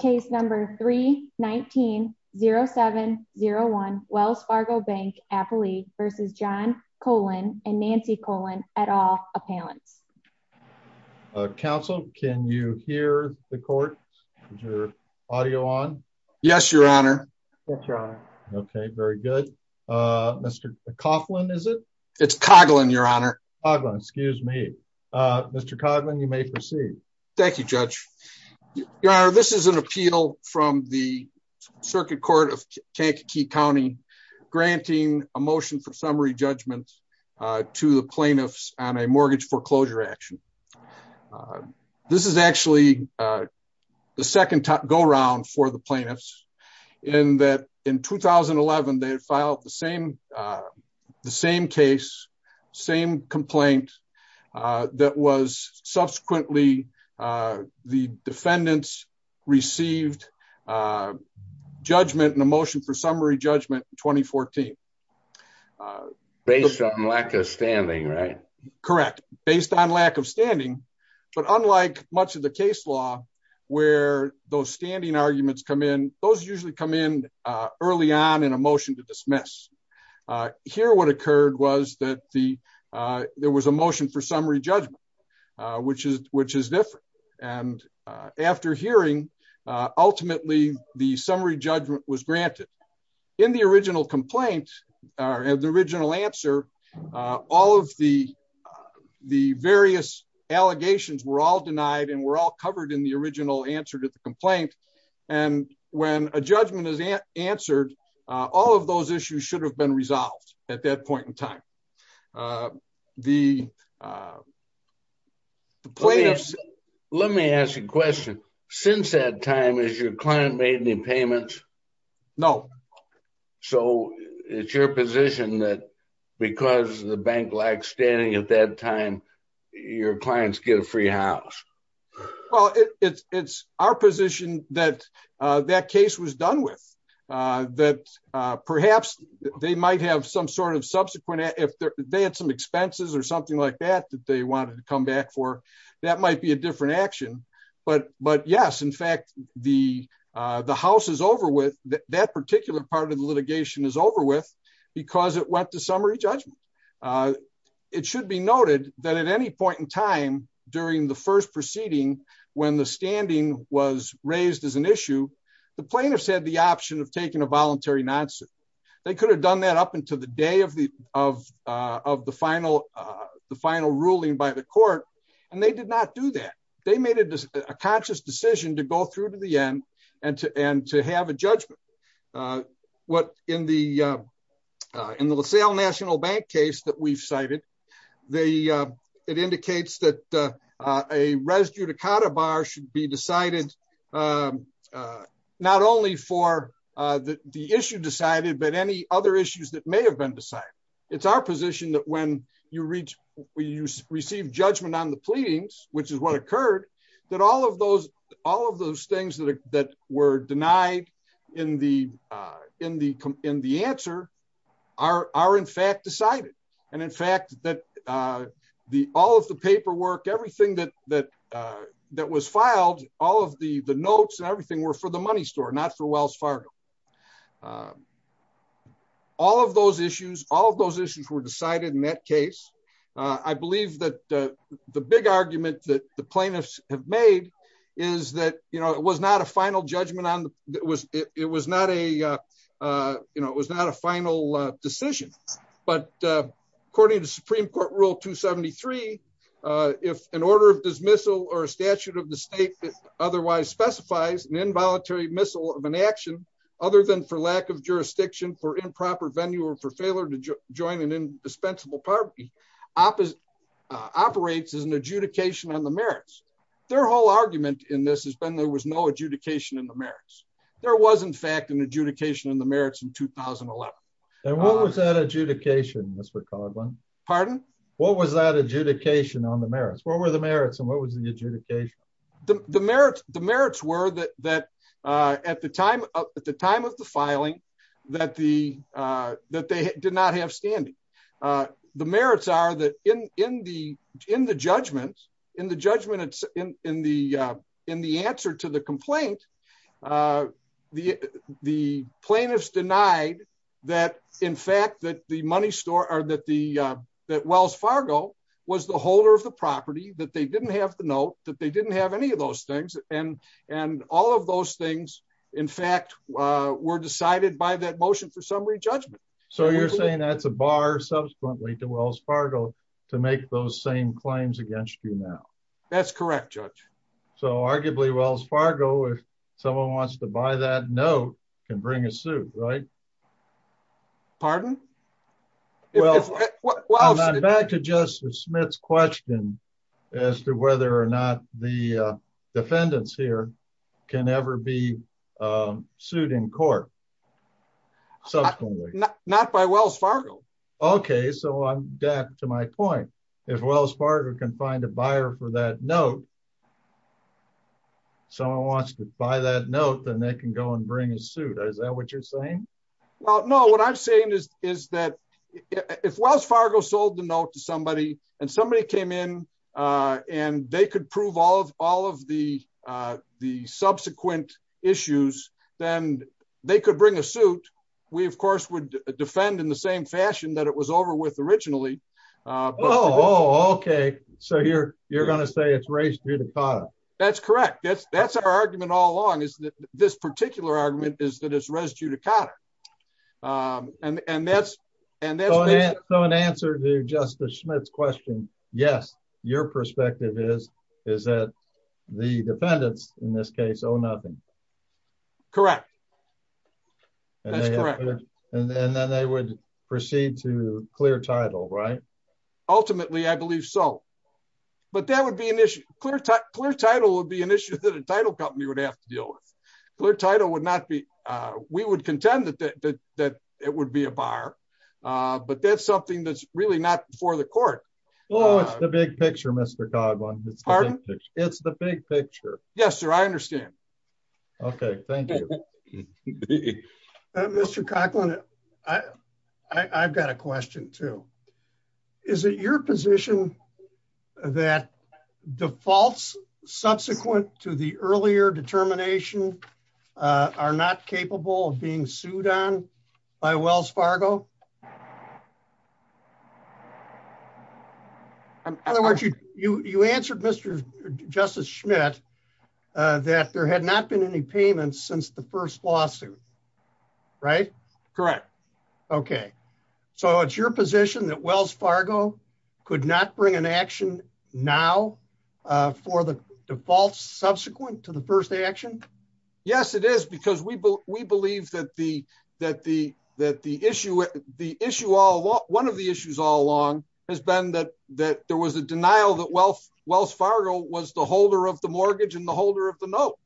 C. 319-0701 Wells Fargo Bank, N.A. v. John Coghlan, N.A. v. Nancy Coghlan et al. Counsel, can you hear the court? Is your audio on? Yes, your honor. Okay, very good. Mr. Coghlan, is it? It's Coghlan, your honor. Coghlan, excuse me. Mr. Coghlan, you may proceed. Thank you, Judge. Your honor, this is an appeal from the Circuit Court of Kankakee County granting a motion for summary judgment to the plaintiffs on a mortgage foreclosure action. This is actually the second go-round for the plaintiffs in that in 2011, they had filed the same case, same complaint that was subsequently the defendants received judgment and a motion for summary judgment in 2014. Based on lack of standing, right? Correct, based on lack of standing, but unlike much of the case where those standing arguments come in, those usually come in early on in a motion to dismiss. Here, what occurred was that there was a motion for summary judgment, which is different. And after hearing, ultimately, the summary judgment was granted. In the original complaint or the original answer to the complaint. And when a judgment is answered, all of those issues should have been resolved at that point in time. The plaintiffs... Let me ask you a question. Since that time, has your client made any payments? No. So it's your position that because the bank standing at that time, your clients get a free house? Well, it's our position that that case was done with. That perhaps they might have some sort of subsequent... If they had some expenses or something like that, that they wanted to come back for, that might be a different action. But yes, in fact, the house is over with that particular part of the litigation is over with because it summary judgment. It should be noted that at any point in time, during the first proceeding, when the standing was raised as an issue, the plaintiffs had the option of taking a voluntary non-suit. They could have done that up until the day of the final ruling by the court, and they did not do that. They made a conscious decision to go through to the end and to have a national bank case that we've cited. It indicates that a res judicata bar should be decided not only for the issue decided, but any other issues that may have been decided. It's our position that when you receive judgment on the pleadings, which is what occurred, that all of those things that were denied in the answer are in fact decided. In fact, all of the paperwork, everything that was filed, all of the notes and everything were for the money store, not for Wells Fargo. All of those issues were decided in that case. I believe that the big argument that the plaintiffs have made is that it was not a final judgment. It was not a final decision, but according to Supreme Court Rule 273, if an order of dismissal or a statute of the state that otherwise specifies an involuntary missile of an action, other than for lack of jurisdiction, for improper venue, or for failure to join an indispensable party, operates as an adjudication on the merits. Their whole argument in this has been there was no adjudication in the merits. There was in fact an adjudication in the merits in 2011. And what was that adjudication, Mr. Coughlin? Pardon? What was that adjudication on the merits? What were the merits and what was the adjudication? The merits were that at the time of the filing that they did not have standing. The merits are that in the judgment, in the judgment in the answer to the complaint, the plaintiffs denied that in fact that the money store or that Wells Fargo was the holder of the property, that they didn't have the note, that they didn't have any of those things. And all of those things in fact were decided by that motion for summary judgment. So you're saying that's a bar subsequently to Wells Fargo to make those same claims against you now? That's correct, Judge. So arguably Wells Fargo, if someone wants to buy that note, can bring a suit, right? Pardon? Well, I'm back to Justice Smith's question as to whether or not the defendants here can ever be sued in court subsequently. Not by Wells Fargo. Okay, so I'm back to my point. If Wells Fargo can find a buyer for that note, someone wants to buy that note, then they can go and bring a suit. Is that what you're saying? Well, no. What I'm saying is that if Wells Fargo sold the note to somebody and somebody came in and they could prove all of the subsequent issues, then they could bring a suit. We of course would defend in the same fashion that it was over with originally. Oh, okay. So you're going to say it's raised through the cotta. That's correct. That's our argument is that it's residue to cotta. So in answer to Justice Smith's question, yes, your perspective is that the defendants in this case owe nothing. Correct. That's correct. And then they would proceed to clear title, right? Ultimately, I believe so. But that would be an issue. Clear title would be an issue that a title company would have to deal with. Clear title would not be, we would contend that it would be a buyer, but that's something that's really not before the court. Oh, it's the big picture, Mr. Coughlin. Pardon? It's the big picture. Yes, sir. I understand. Okay. Thank you. Mr. Coughlin, I've got a question too. Is it your position that defaults subsequent to the earlier determination are not capable of being sued on by Wells Fargo? In other words, you, you, you answered Mr. Justice Schmidt that there had not been any since the first lawsuit, right? Correct. Okay. So it's your position that Wells Fargo could not bring an action now for the defaults subsequent to the first action? Yes, it is. Because we believe that the issue, one of the issues all along has been that there was a denial that Wells Fargo was the holder of the mortgage and the holder of the note.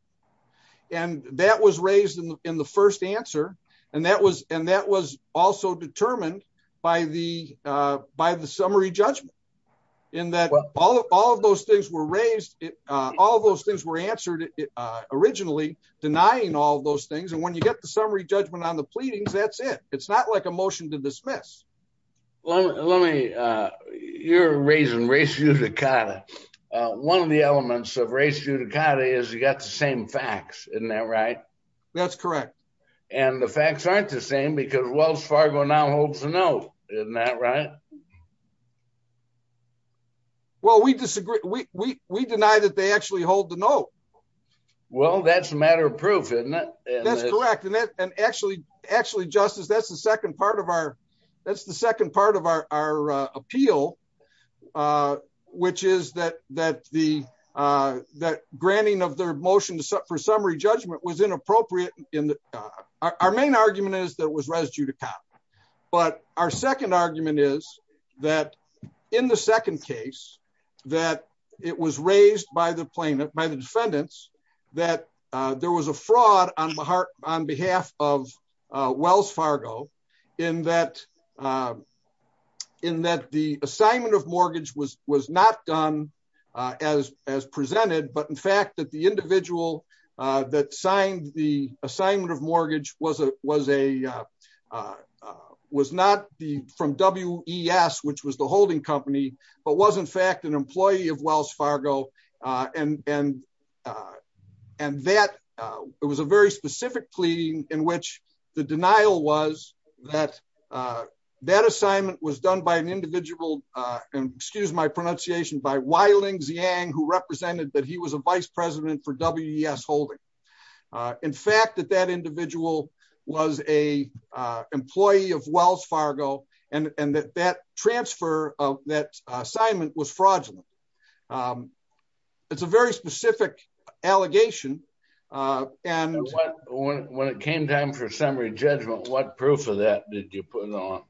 And that was raised in the, in the first answer. And that was, and that was also determined by the, by the summary judgment in that all of those things were raised. All of those things were answered originally denying all those things. And when you get the summary judgment on the pleadings, that's it. It's not like a motion to dismiss. Well, let me, you're raising race is you got the same facts, isn't that right? That's correct. And the facts aren't the same because Wells Fargo now holds the note. Isn't that right? Well, we disagree. We, we, we deny that they actually hold the note. Well, that's a matter of proof, isn't it? That's correct. And that, and actually, actually, Justice, that's the second part of our, that's the second part of our, our appeal, uh, which is that, that the, uh, that granting of their motion for summary judgment was inappropriate in the, uh, our main argument is that it was residue to cop. But our second argument is that in the second case that it was raised by the plaintiff, by the defendants that, uh, was a fraud on my heart on behalf of, uh, Wells Fargo in that, uh, in that the assignment of mortgage was, was not done, uh, as, as presented, but in fact that the individual, uh, that signed the assignment of mortgage was a, was a, uh, uh, was not the from W E S, which was the holding but was in fact an employee of Wells Fargo. Uh, and, and, uh, and that, uh, it was a very specific plea in which the denial was that, uh, that assignment was done by an individual, uh, and excuse my pronunciation by wildlings Yang, who represented that he was a vice president for WES holding, uh, in fact, that that individual was a, uh, employee of Wells Fargo and that that transfer of that assignment was fraudulent. Um, it's a very specific allegation. Uh, and when it came down for summary judgment, what proof of that did you put on?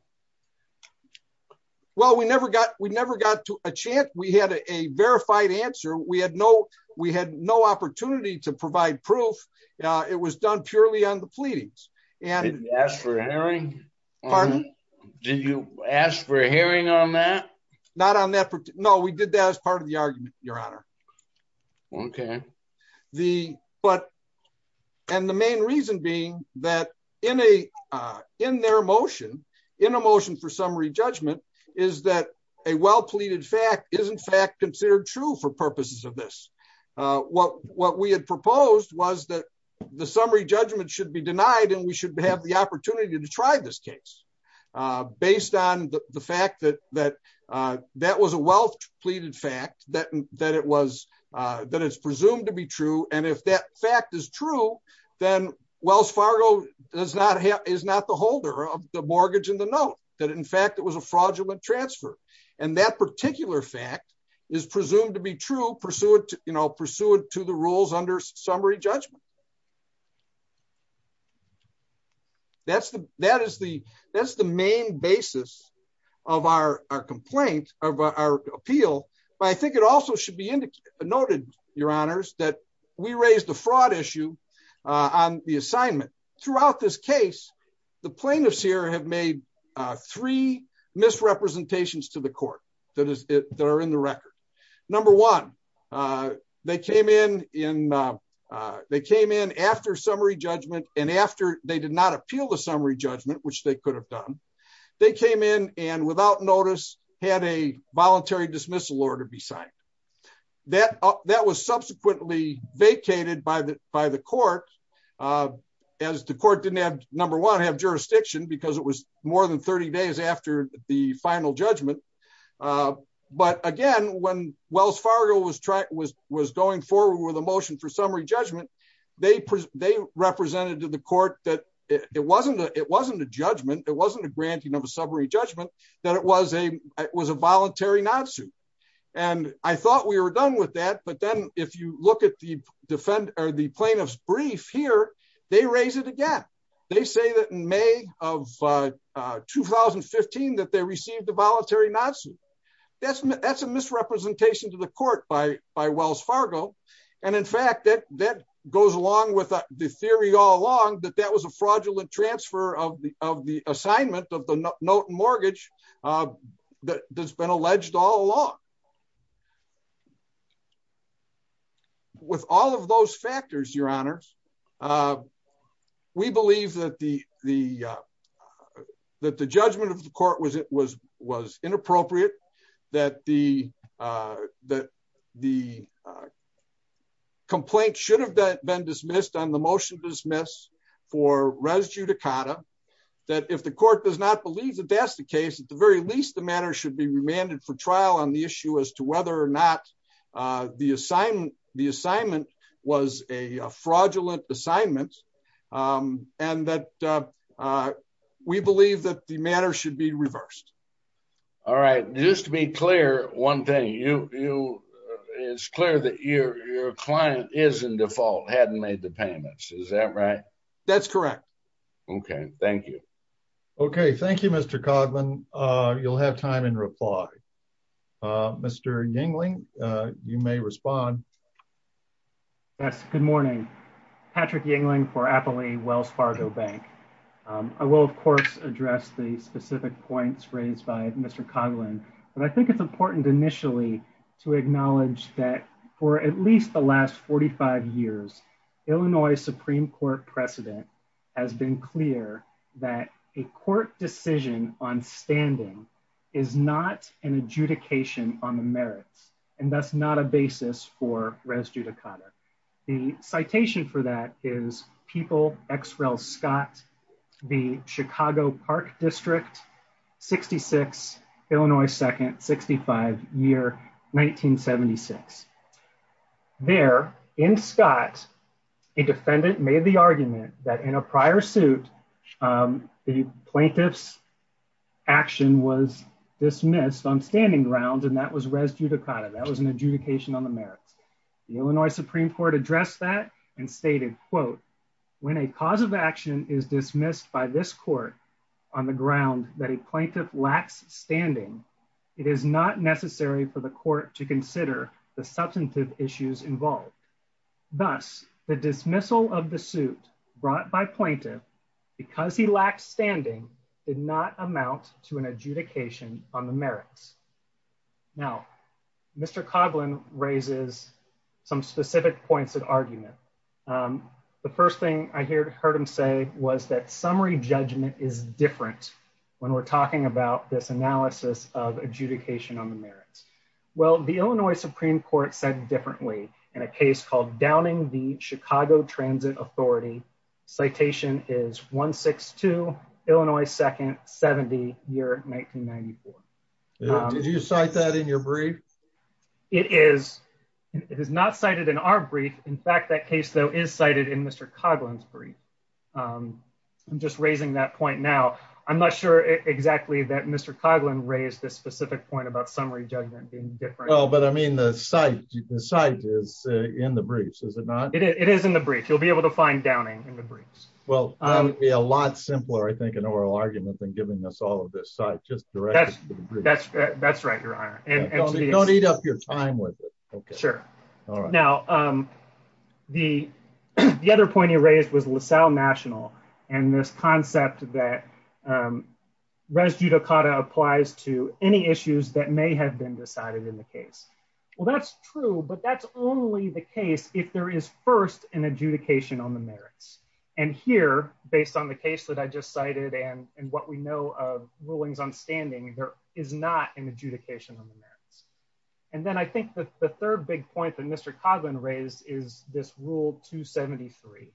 Well, we never got, we never got to a chance. We had a verified answer. We had no, we had no opportunity to provide proof. Uh, it was done purely on the pleadings and ask for a hearing. Did you ask for a hearing on that? Not on that? No, we did that as part of the argument, your honor. Okay. The, but, and the main reason being that in a, uh, in their motion in emotion for summary judgment is that a well pleaded fact isn't fact considered true for purposes of this. Uh, what, what we had proposed was that the summary judgment should be denied and we should have the opportunity to try this case, uh, based on the fact that, that, uh, that was a wealth pleaded fact that, that it was, uh, that it's presumed to be true. And if that fact is true, then Wells Fargo does not have, is not the holder of the mortgage and the note that in fact, it was a fraudulent transfer. And that particular fact is presumed to be true pursuant to, you know, that's the, that is the, that's the main basis of our complaint of our appeal. But I think it also should be indicated, noted your honors that we raised the fraud issue, uh, on the assignment throughout this case, the plaintiffs here have made, uh, three misrepresentations to the court that is there in the record. Number one, uh, they came in in, uh, uh, they came in after summary judgment. And after they did not appeal the summary judgment, which they could have done, they came in and without notice had a voluntary dismissal order be signed that, that was subsequently vacated by the, by the court, uh, as the court didn't have number one, have jurisdiction because it was more than 30 days after the final judgment. Uh, but again, when Wells Fargo was going forward with a motion for summary judgment, they pres they represented to the court that it wasn't, it wasn't a judgment. It wasn't a granting of a summary judgment that it was a, it was a voluntary not suit. And I thought we were done with that. But then if you look at the defend or the plaintiff's brief here, they raise it again. They say that in May of, uh, uh, 2015, that they received the voluntary not suit. That's, that's a misrepresentation to the court by, by Wells Fargo. And in fact, that, that goes along with the theory all along that that was a fraudulent transfer of the, of the assignment of the note mortgage, uh, that there's been alleged all along with all of those factors, your honors. Uh, we believe that the, the, uh, that the judgment of the court was, it was, was inappropriate that the, uh, that the, uh, complaint should have been dismissed on the motion to dismiss for res judicata that if the court does not believe that that's the case at the very least, the matter should be remanded for trial on the issue as to whether or not, uh, the assignment, the assignment was a fraudulent assignment. Um, and that, uh, uh, we believe that the matter should be reversed. All right. Just to be clear. One thing you, you, it's clear that your, your client is in default hadn't made the payments. Is that right? That's correct. Okay. Thank you. Okay. Thank you, Mr. Codman. Uh, you'll have time in reply. Uh, Mr. Yingling, uh, you may respond. Yes. Good morning. Patrick Yingling for Appley Wells Fargo bank. Um, I will of course address the specific points raised by Mr. Coghlan, but I think it's important initially to acknowledge that for at least the last 45 years, Illinois Supreme court precedent has been clear that a res judicata, the citation for that is people X rel Scott, the Chicago park district 66, Illinois. Second 65 year, 1976 there in Scott, a defendant made the argument that in a prior suit, um, the plaintiff's action was dismissed on standing ground. And that was res judicata. That was an adjudication on the merits. The Illinois Supreme court addressed that and stated quote, when a cause of action is dismissed by this court on the ground that a plaintiff lacks standing, it is not necessary for the court to consider the substantive issues involved. Thus the dismissal of the suit brought by plaintiff because he lacks standing did not Mr. Coghlan raises some specific points of argument. Um, the first thing I heard him say was that summary judgment is different when we're talking about this analysis of adjudication on the merits. Well, the Illinois Supreme court said differently in a case called downing the Chicago transit authority. Citation is one six two Illinois. Second 70 year, 1994. Did you cite that in your brief? It is, it is not cited in our brief. In fact, that case though is cited in Mr. Coghlan's brief. Um, I'm just raising that point now. I'm not sure exactly that Mr. Coghlan raised this specific point about summary judgment being different. Oh, but I mean the site, the site is in the briefs, is it not? It is in the brief, you'll be able to find downing in the briefs. Well, um, a lot simpler, I think an oral argument than giving us all of this site just directly. That's right, your honor. Don't eat up your time with it. Okay, sure. All right. Now, um, the, the other point you raised was LaSalle national and this concept that, um, res judicata applies to any issues that may have been decided in the case. Well, that's true, but that's only the case if there is first an adjudication on the merits and here, based on the case that I just cited and what we know of rulings on standing, there is not an adjudication on the merits. And then I think that the third big point that Mr. Coghlan raised is this rule two 73.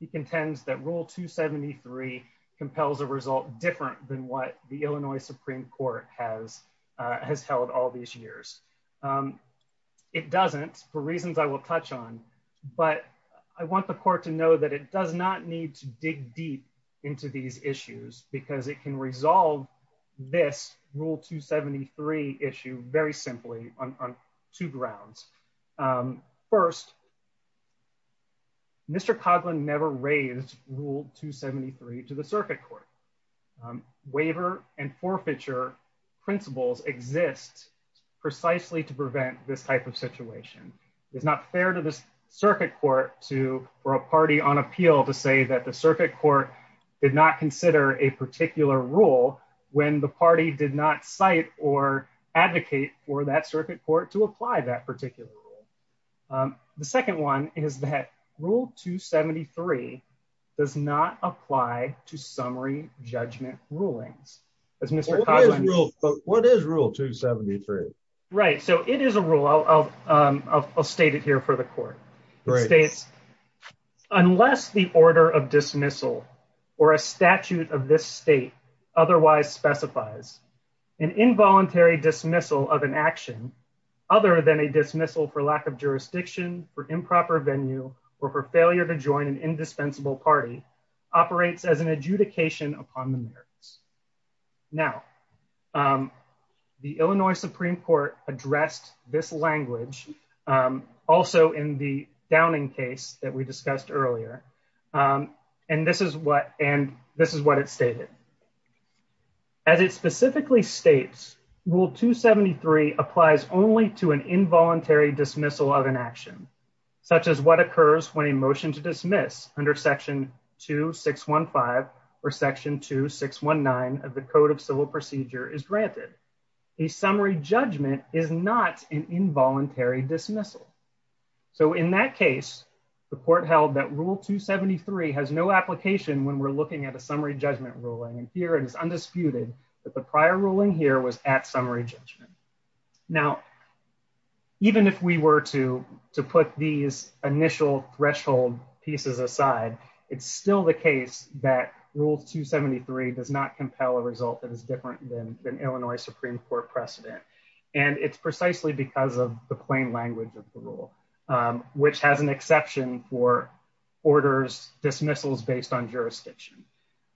He contends that rule two 73 compels a result different than what the Illinois Supreme Court has, uh, has held all these years. Um, it doesn't for reasons I will touch on, but I want the court to know that it does not need to dig deep into these issues because it can resolve this rule two 73 issue very simply on two grounds. Um, first Mr. Coghlan never raised rule two 73 to the circuit court, um, waiver and forfeiture principles exist precisely to prevent this type of situation. It's not fair to this circuit court to, for a party on appeal to say that the circuit court did not consider a particular rule when the party did not cite or advocate for that circuit court to apply that particular rule. Um, the second one is that rule two 73 does not apply to summary judgment rulings as Mr. Coghlan. What is rule two 73? Right. So it is a rule. I'll, I'll, um, I'll, I'll state it here for the court. Unless the order of dismissal or a statute of this state otherwise specifies an involuntary dismissal of an action other than a dismissal for lack of jurisdiction for improper venue or for failure to join an indispensable party operates as an adjudication upon the merits. Now, um, the Illinois Supreme court addressed this language, um, also in the downing case that we discussed earlier. Um, and this is what, and this is what it stated as it specifically states will two 73 applies only to an involuntary dismissal of an action such as what occurs when motion to dismiss under section 2615 or section 2619 of the code of civil procedure is granted. A summary judgment is not an involuntary dismissal. So in that case, the court held that rule two 73 has no application when we're looking at a summary judgment ruling. And here it is undisputed that the prior ruling here was at summary judgment. Now, even if we were to, to put these initial threshold pieces aside, it's still the case that rule two 73 does not compel a result that is different than Illinois Supreme court precedent. And it's precisely because of the plain language of the rule, um, which has an exception for orders dismissals based on jurisdiction.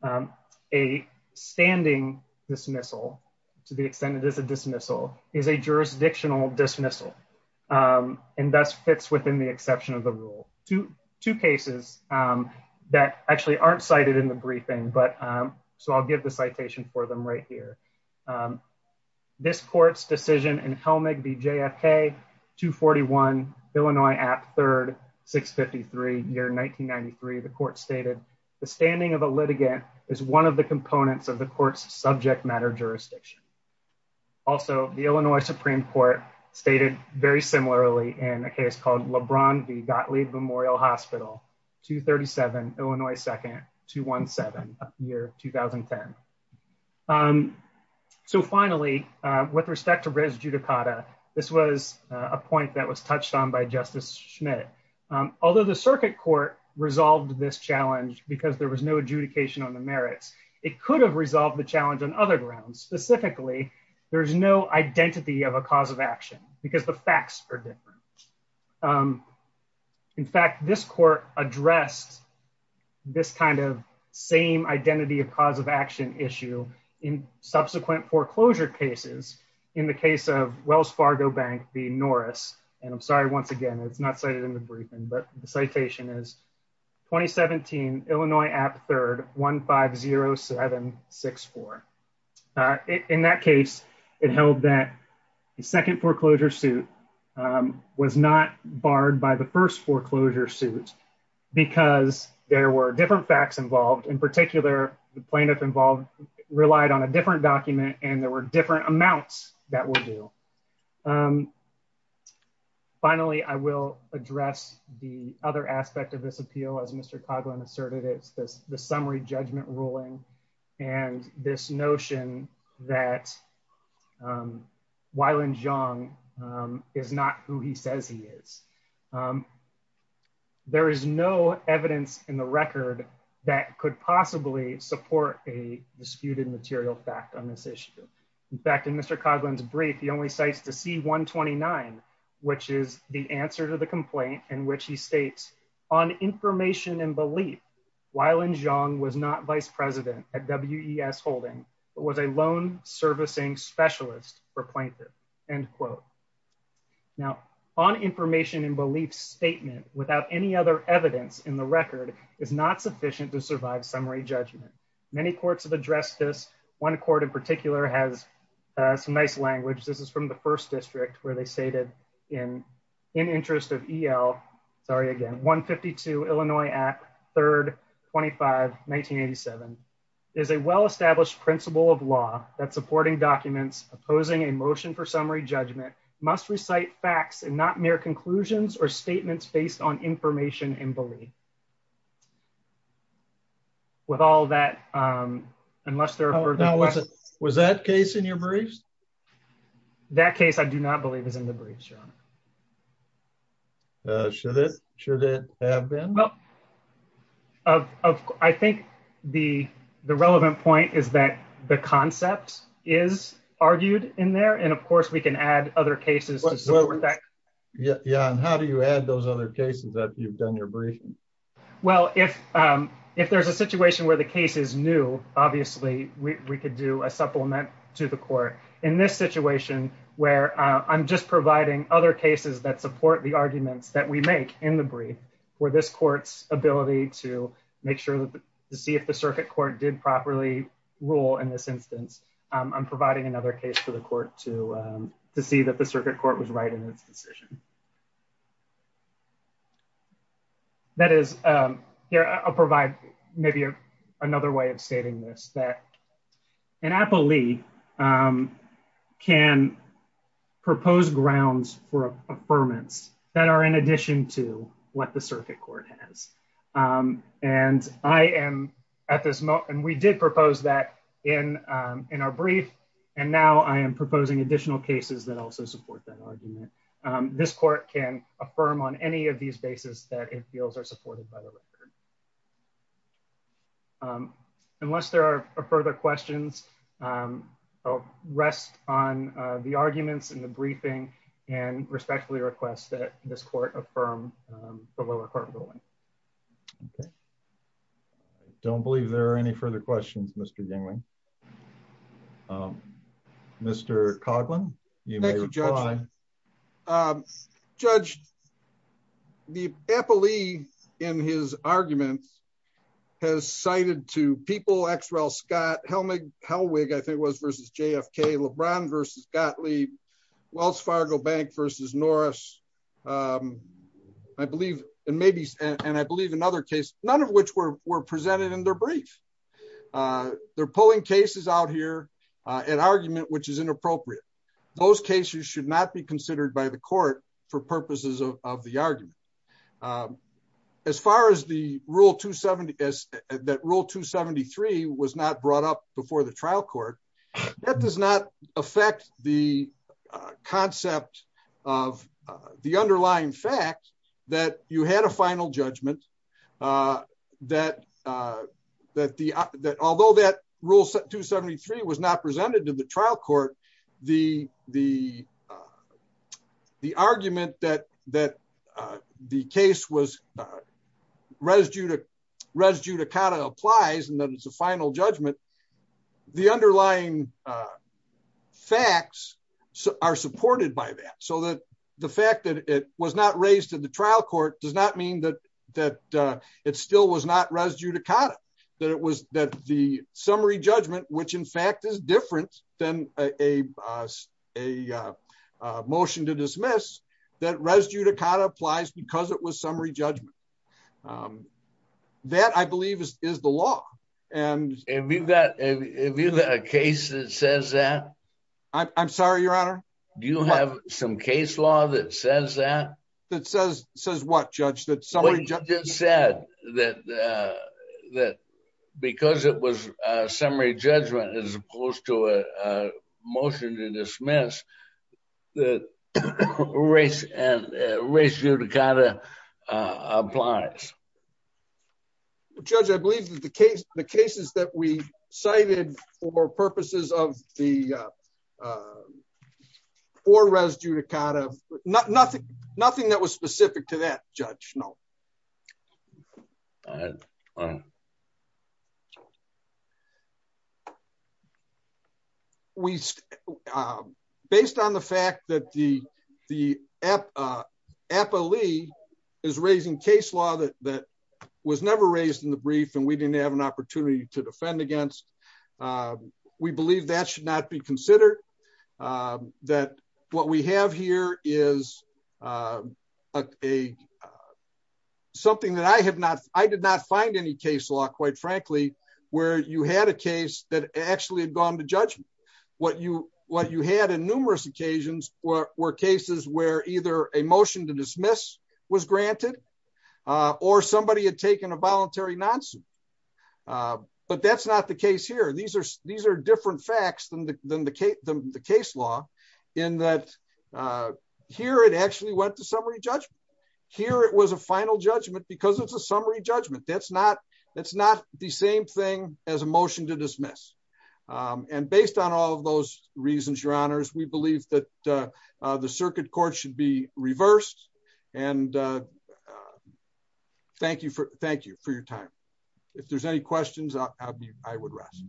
Um, a standing dismissal to the extent that it is a dismissal is a within the exception of the rule to two cases, um, that actually aren't cited in the briefing. But, um, so I'll give the citation for them right here. Um, this court's decision and Helmick, the JFK two 41 Illinois app third six 53 year 1993, the court stated the standing of a litigant is one of the components of the court's subject matter jurisdiction. Also, the Illinois Supreme court stated very similarly in a case called LeBron, the Gottlieb Memorial hospital two 37 Illinois, second two one seven year 2010. Um, so finally, uh, with respect to res judicata, this was a point that was touched on by justice Schmidt. Um, although the circuit court resolved this challenge because there was no adjudication on the merits, it could have resolved the challenge on other grounds. Specifically, there is no identity of a cause of action because the facts are different. Um, in fact, this court addressed this kind of same identity of cause of action issue in subsequent foreclosure cases. In the case of Wells Fargo Bank, the Norris, and I'm sorry, once again, it's not cited in the briefing, but the citation is 2017 Illinois app third 150764. Uh, in that case, it held that the second foreclosure suit, um, was not barred by the first foreclosure suit because there were different facts involved. In particular, the plaintiff involved relied on a different document, and there were different amounts that will do. Um, finally, I will address the other aspect of this appeal. As Mr Coughlin asserted, the summary judgment ruling and this notion that, um, Weiland Zhang is not who he says he is. There is no evidence in the record that could possibly support a disputed material fact on this issue. In fact, in Mr Coughlin's brief, the only sites to see 1 29, which is the answer to complaint in which he states on information and belief, Weiland Zhang was not vice president at WES holding, but was a loan servicing specialist for plaintiff end quote. Now on information and belief statement without any other evidence in the record is not sufficient to survive summary judgment. Many courts have addressed this. One court in particular has, uh, some nice language. This is from the first district where they say that in in interest of E. L. Sorry again. 1 52 Illinois at 3rd 25 1987 is a well established principle of law that supporting documents opposing a motion for summary judgment must recite facts and not mere conclusions or statements based on information and believe with all that. Um, unless there was that case in your briefs. That case I do not believe is in the briefs, Your Honor. Uh, should it? Should it have been? Well, uh, I think the relevant point is that the concept is argued in there. And of course, we can add other cases. Yeah. Yeah. And how do you add those other cases that you've done your briefing? Well, if, um, if there's a situation where the case is new, obviously we could do a supplement to the court in this situation where I'm just providing other cases that support the arguments that we make in the brief where this court's ability to make sure to see if the circuit court did properly rule in this instance. I'm providing another case for the court to, um, to see that the circuit court was right in its decision. That is, um, here. I'll happily, um, can propose grounds for affirmance that are in addition to what the circuit court has. Um, and I am at this moment. We did propose that in, um, in our brief. And now I am proposing additional cases that also support that argument. Um, this court can affirm on any of these bases that it feels are supported by the record. Um, unless there are further questions, um, I'll rest on, uh, the arguments in the briefing and respectfully request that this court affirm, um, the lower court ruling. Okay. I don't believe there are any further questions, Mr. Englund. Um, Mr. Coughlin, you may judge, um, judge the Eppley in his arguments has cited to people. Xrel Scott Helmig Helwig, I think it was versus JFK LeBron versus Gottlieb Wells Fargo Bank versus Norris. Um, I believe, and maybe, and I believe another case, none of which were presented in their brief, uh, they're pulling cases out here, uh, an argument, which is inappropriate. Those cases should not be considered by the court for purposes of the argument. Um, as far as the rule two 70 S that rule two 73 was not brought up before the trial court that does not affect the, uh, concept of, uh, the underlying fact that you had a final judgment, uh, that, uh, that the, uh, that, although that rule two 73 was not presented to the trial court, the, the, uh, the argument that, that, uh, the case was, uh, residue to residue to kind of applies and that it's a final judgment. The underlying, uh, facts are supported by that. The fact that it was not raised to the trial court does not mean that, that, uh, it still was not residue to kind of that it was that the summary judgment, which in fact is different than a, uh, a, uh, uh, motion to dismiss that residue to kind of applies because it was summary judgment. Um, that I believe is, is the law. And if you've got, if you've got a case that says that I'm sorry, do you have some case law that says that that says, says what judge that somebody just said that, uh, that because it was a summary judgment, as opposed to a, uh, motion to dismiss the race and ratio to kind of, uh, applies. Judge, I believe that the case, the cases that we cited for purposes of the, uh, or residue to kind of nothing, nothing that was specific to that judge. No. We, um, based on the fact that the, the app, uh, Appley is raising case law that, that was never raised in the brief and we didn't have an opportunity to defend against. Um, we believe that should not be considered, um, that what we have here is, uh, a, uh, something that I have not, I did not find any case law, quite frankly, where you had a case that actually had gone to judgment. What you, what you had in numerous occasions were cases where either a motion to dismiss was granted, uh, or somebody had taken a voluntary nonsuit. Uh, but that's not the case here. These are, these are different facts than the, than the case, the case law in that, uh, here it actually went to summary judgment here. It was a final judgment because it's a summary judgment. That's not, that's not the same thing as a motion to dismiss. Um, and based on all of those reasons, your honors, we believe that, uh, uh, the circuit court should be reversed and, uh, uh, thank you for, thank you for your time. If there's any questions, I'll be, I would rest.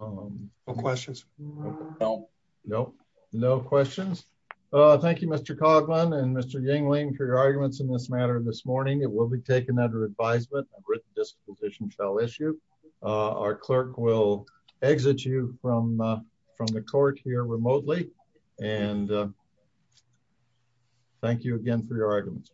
Um, no questions. No, no, no questions. Uh, thank you, Mr. Coughlin and Mr. Yingling for your arguments in this matter. This morning, it will be taken under advisement written disposition trial issue. Uh, our clerk will exit you from, uh, from the court here remotely. And, uh, thank you again for your arguments.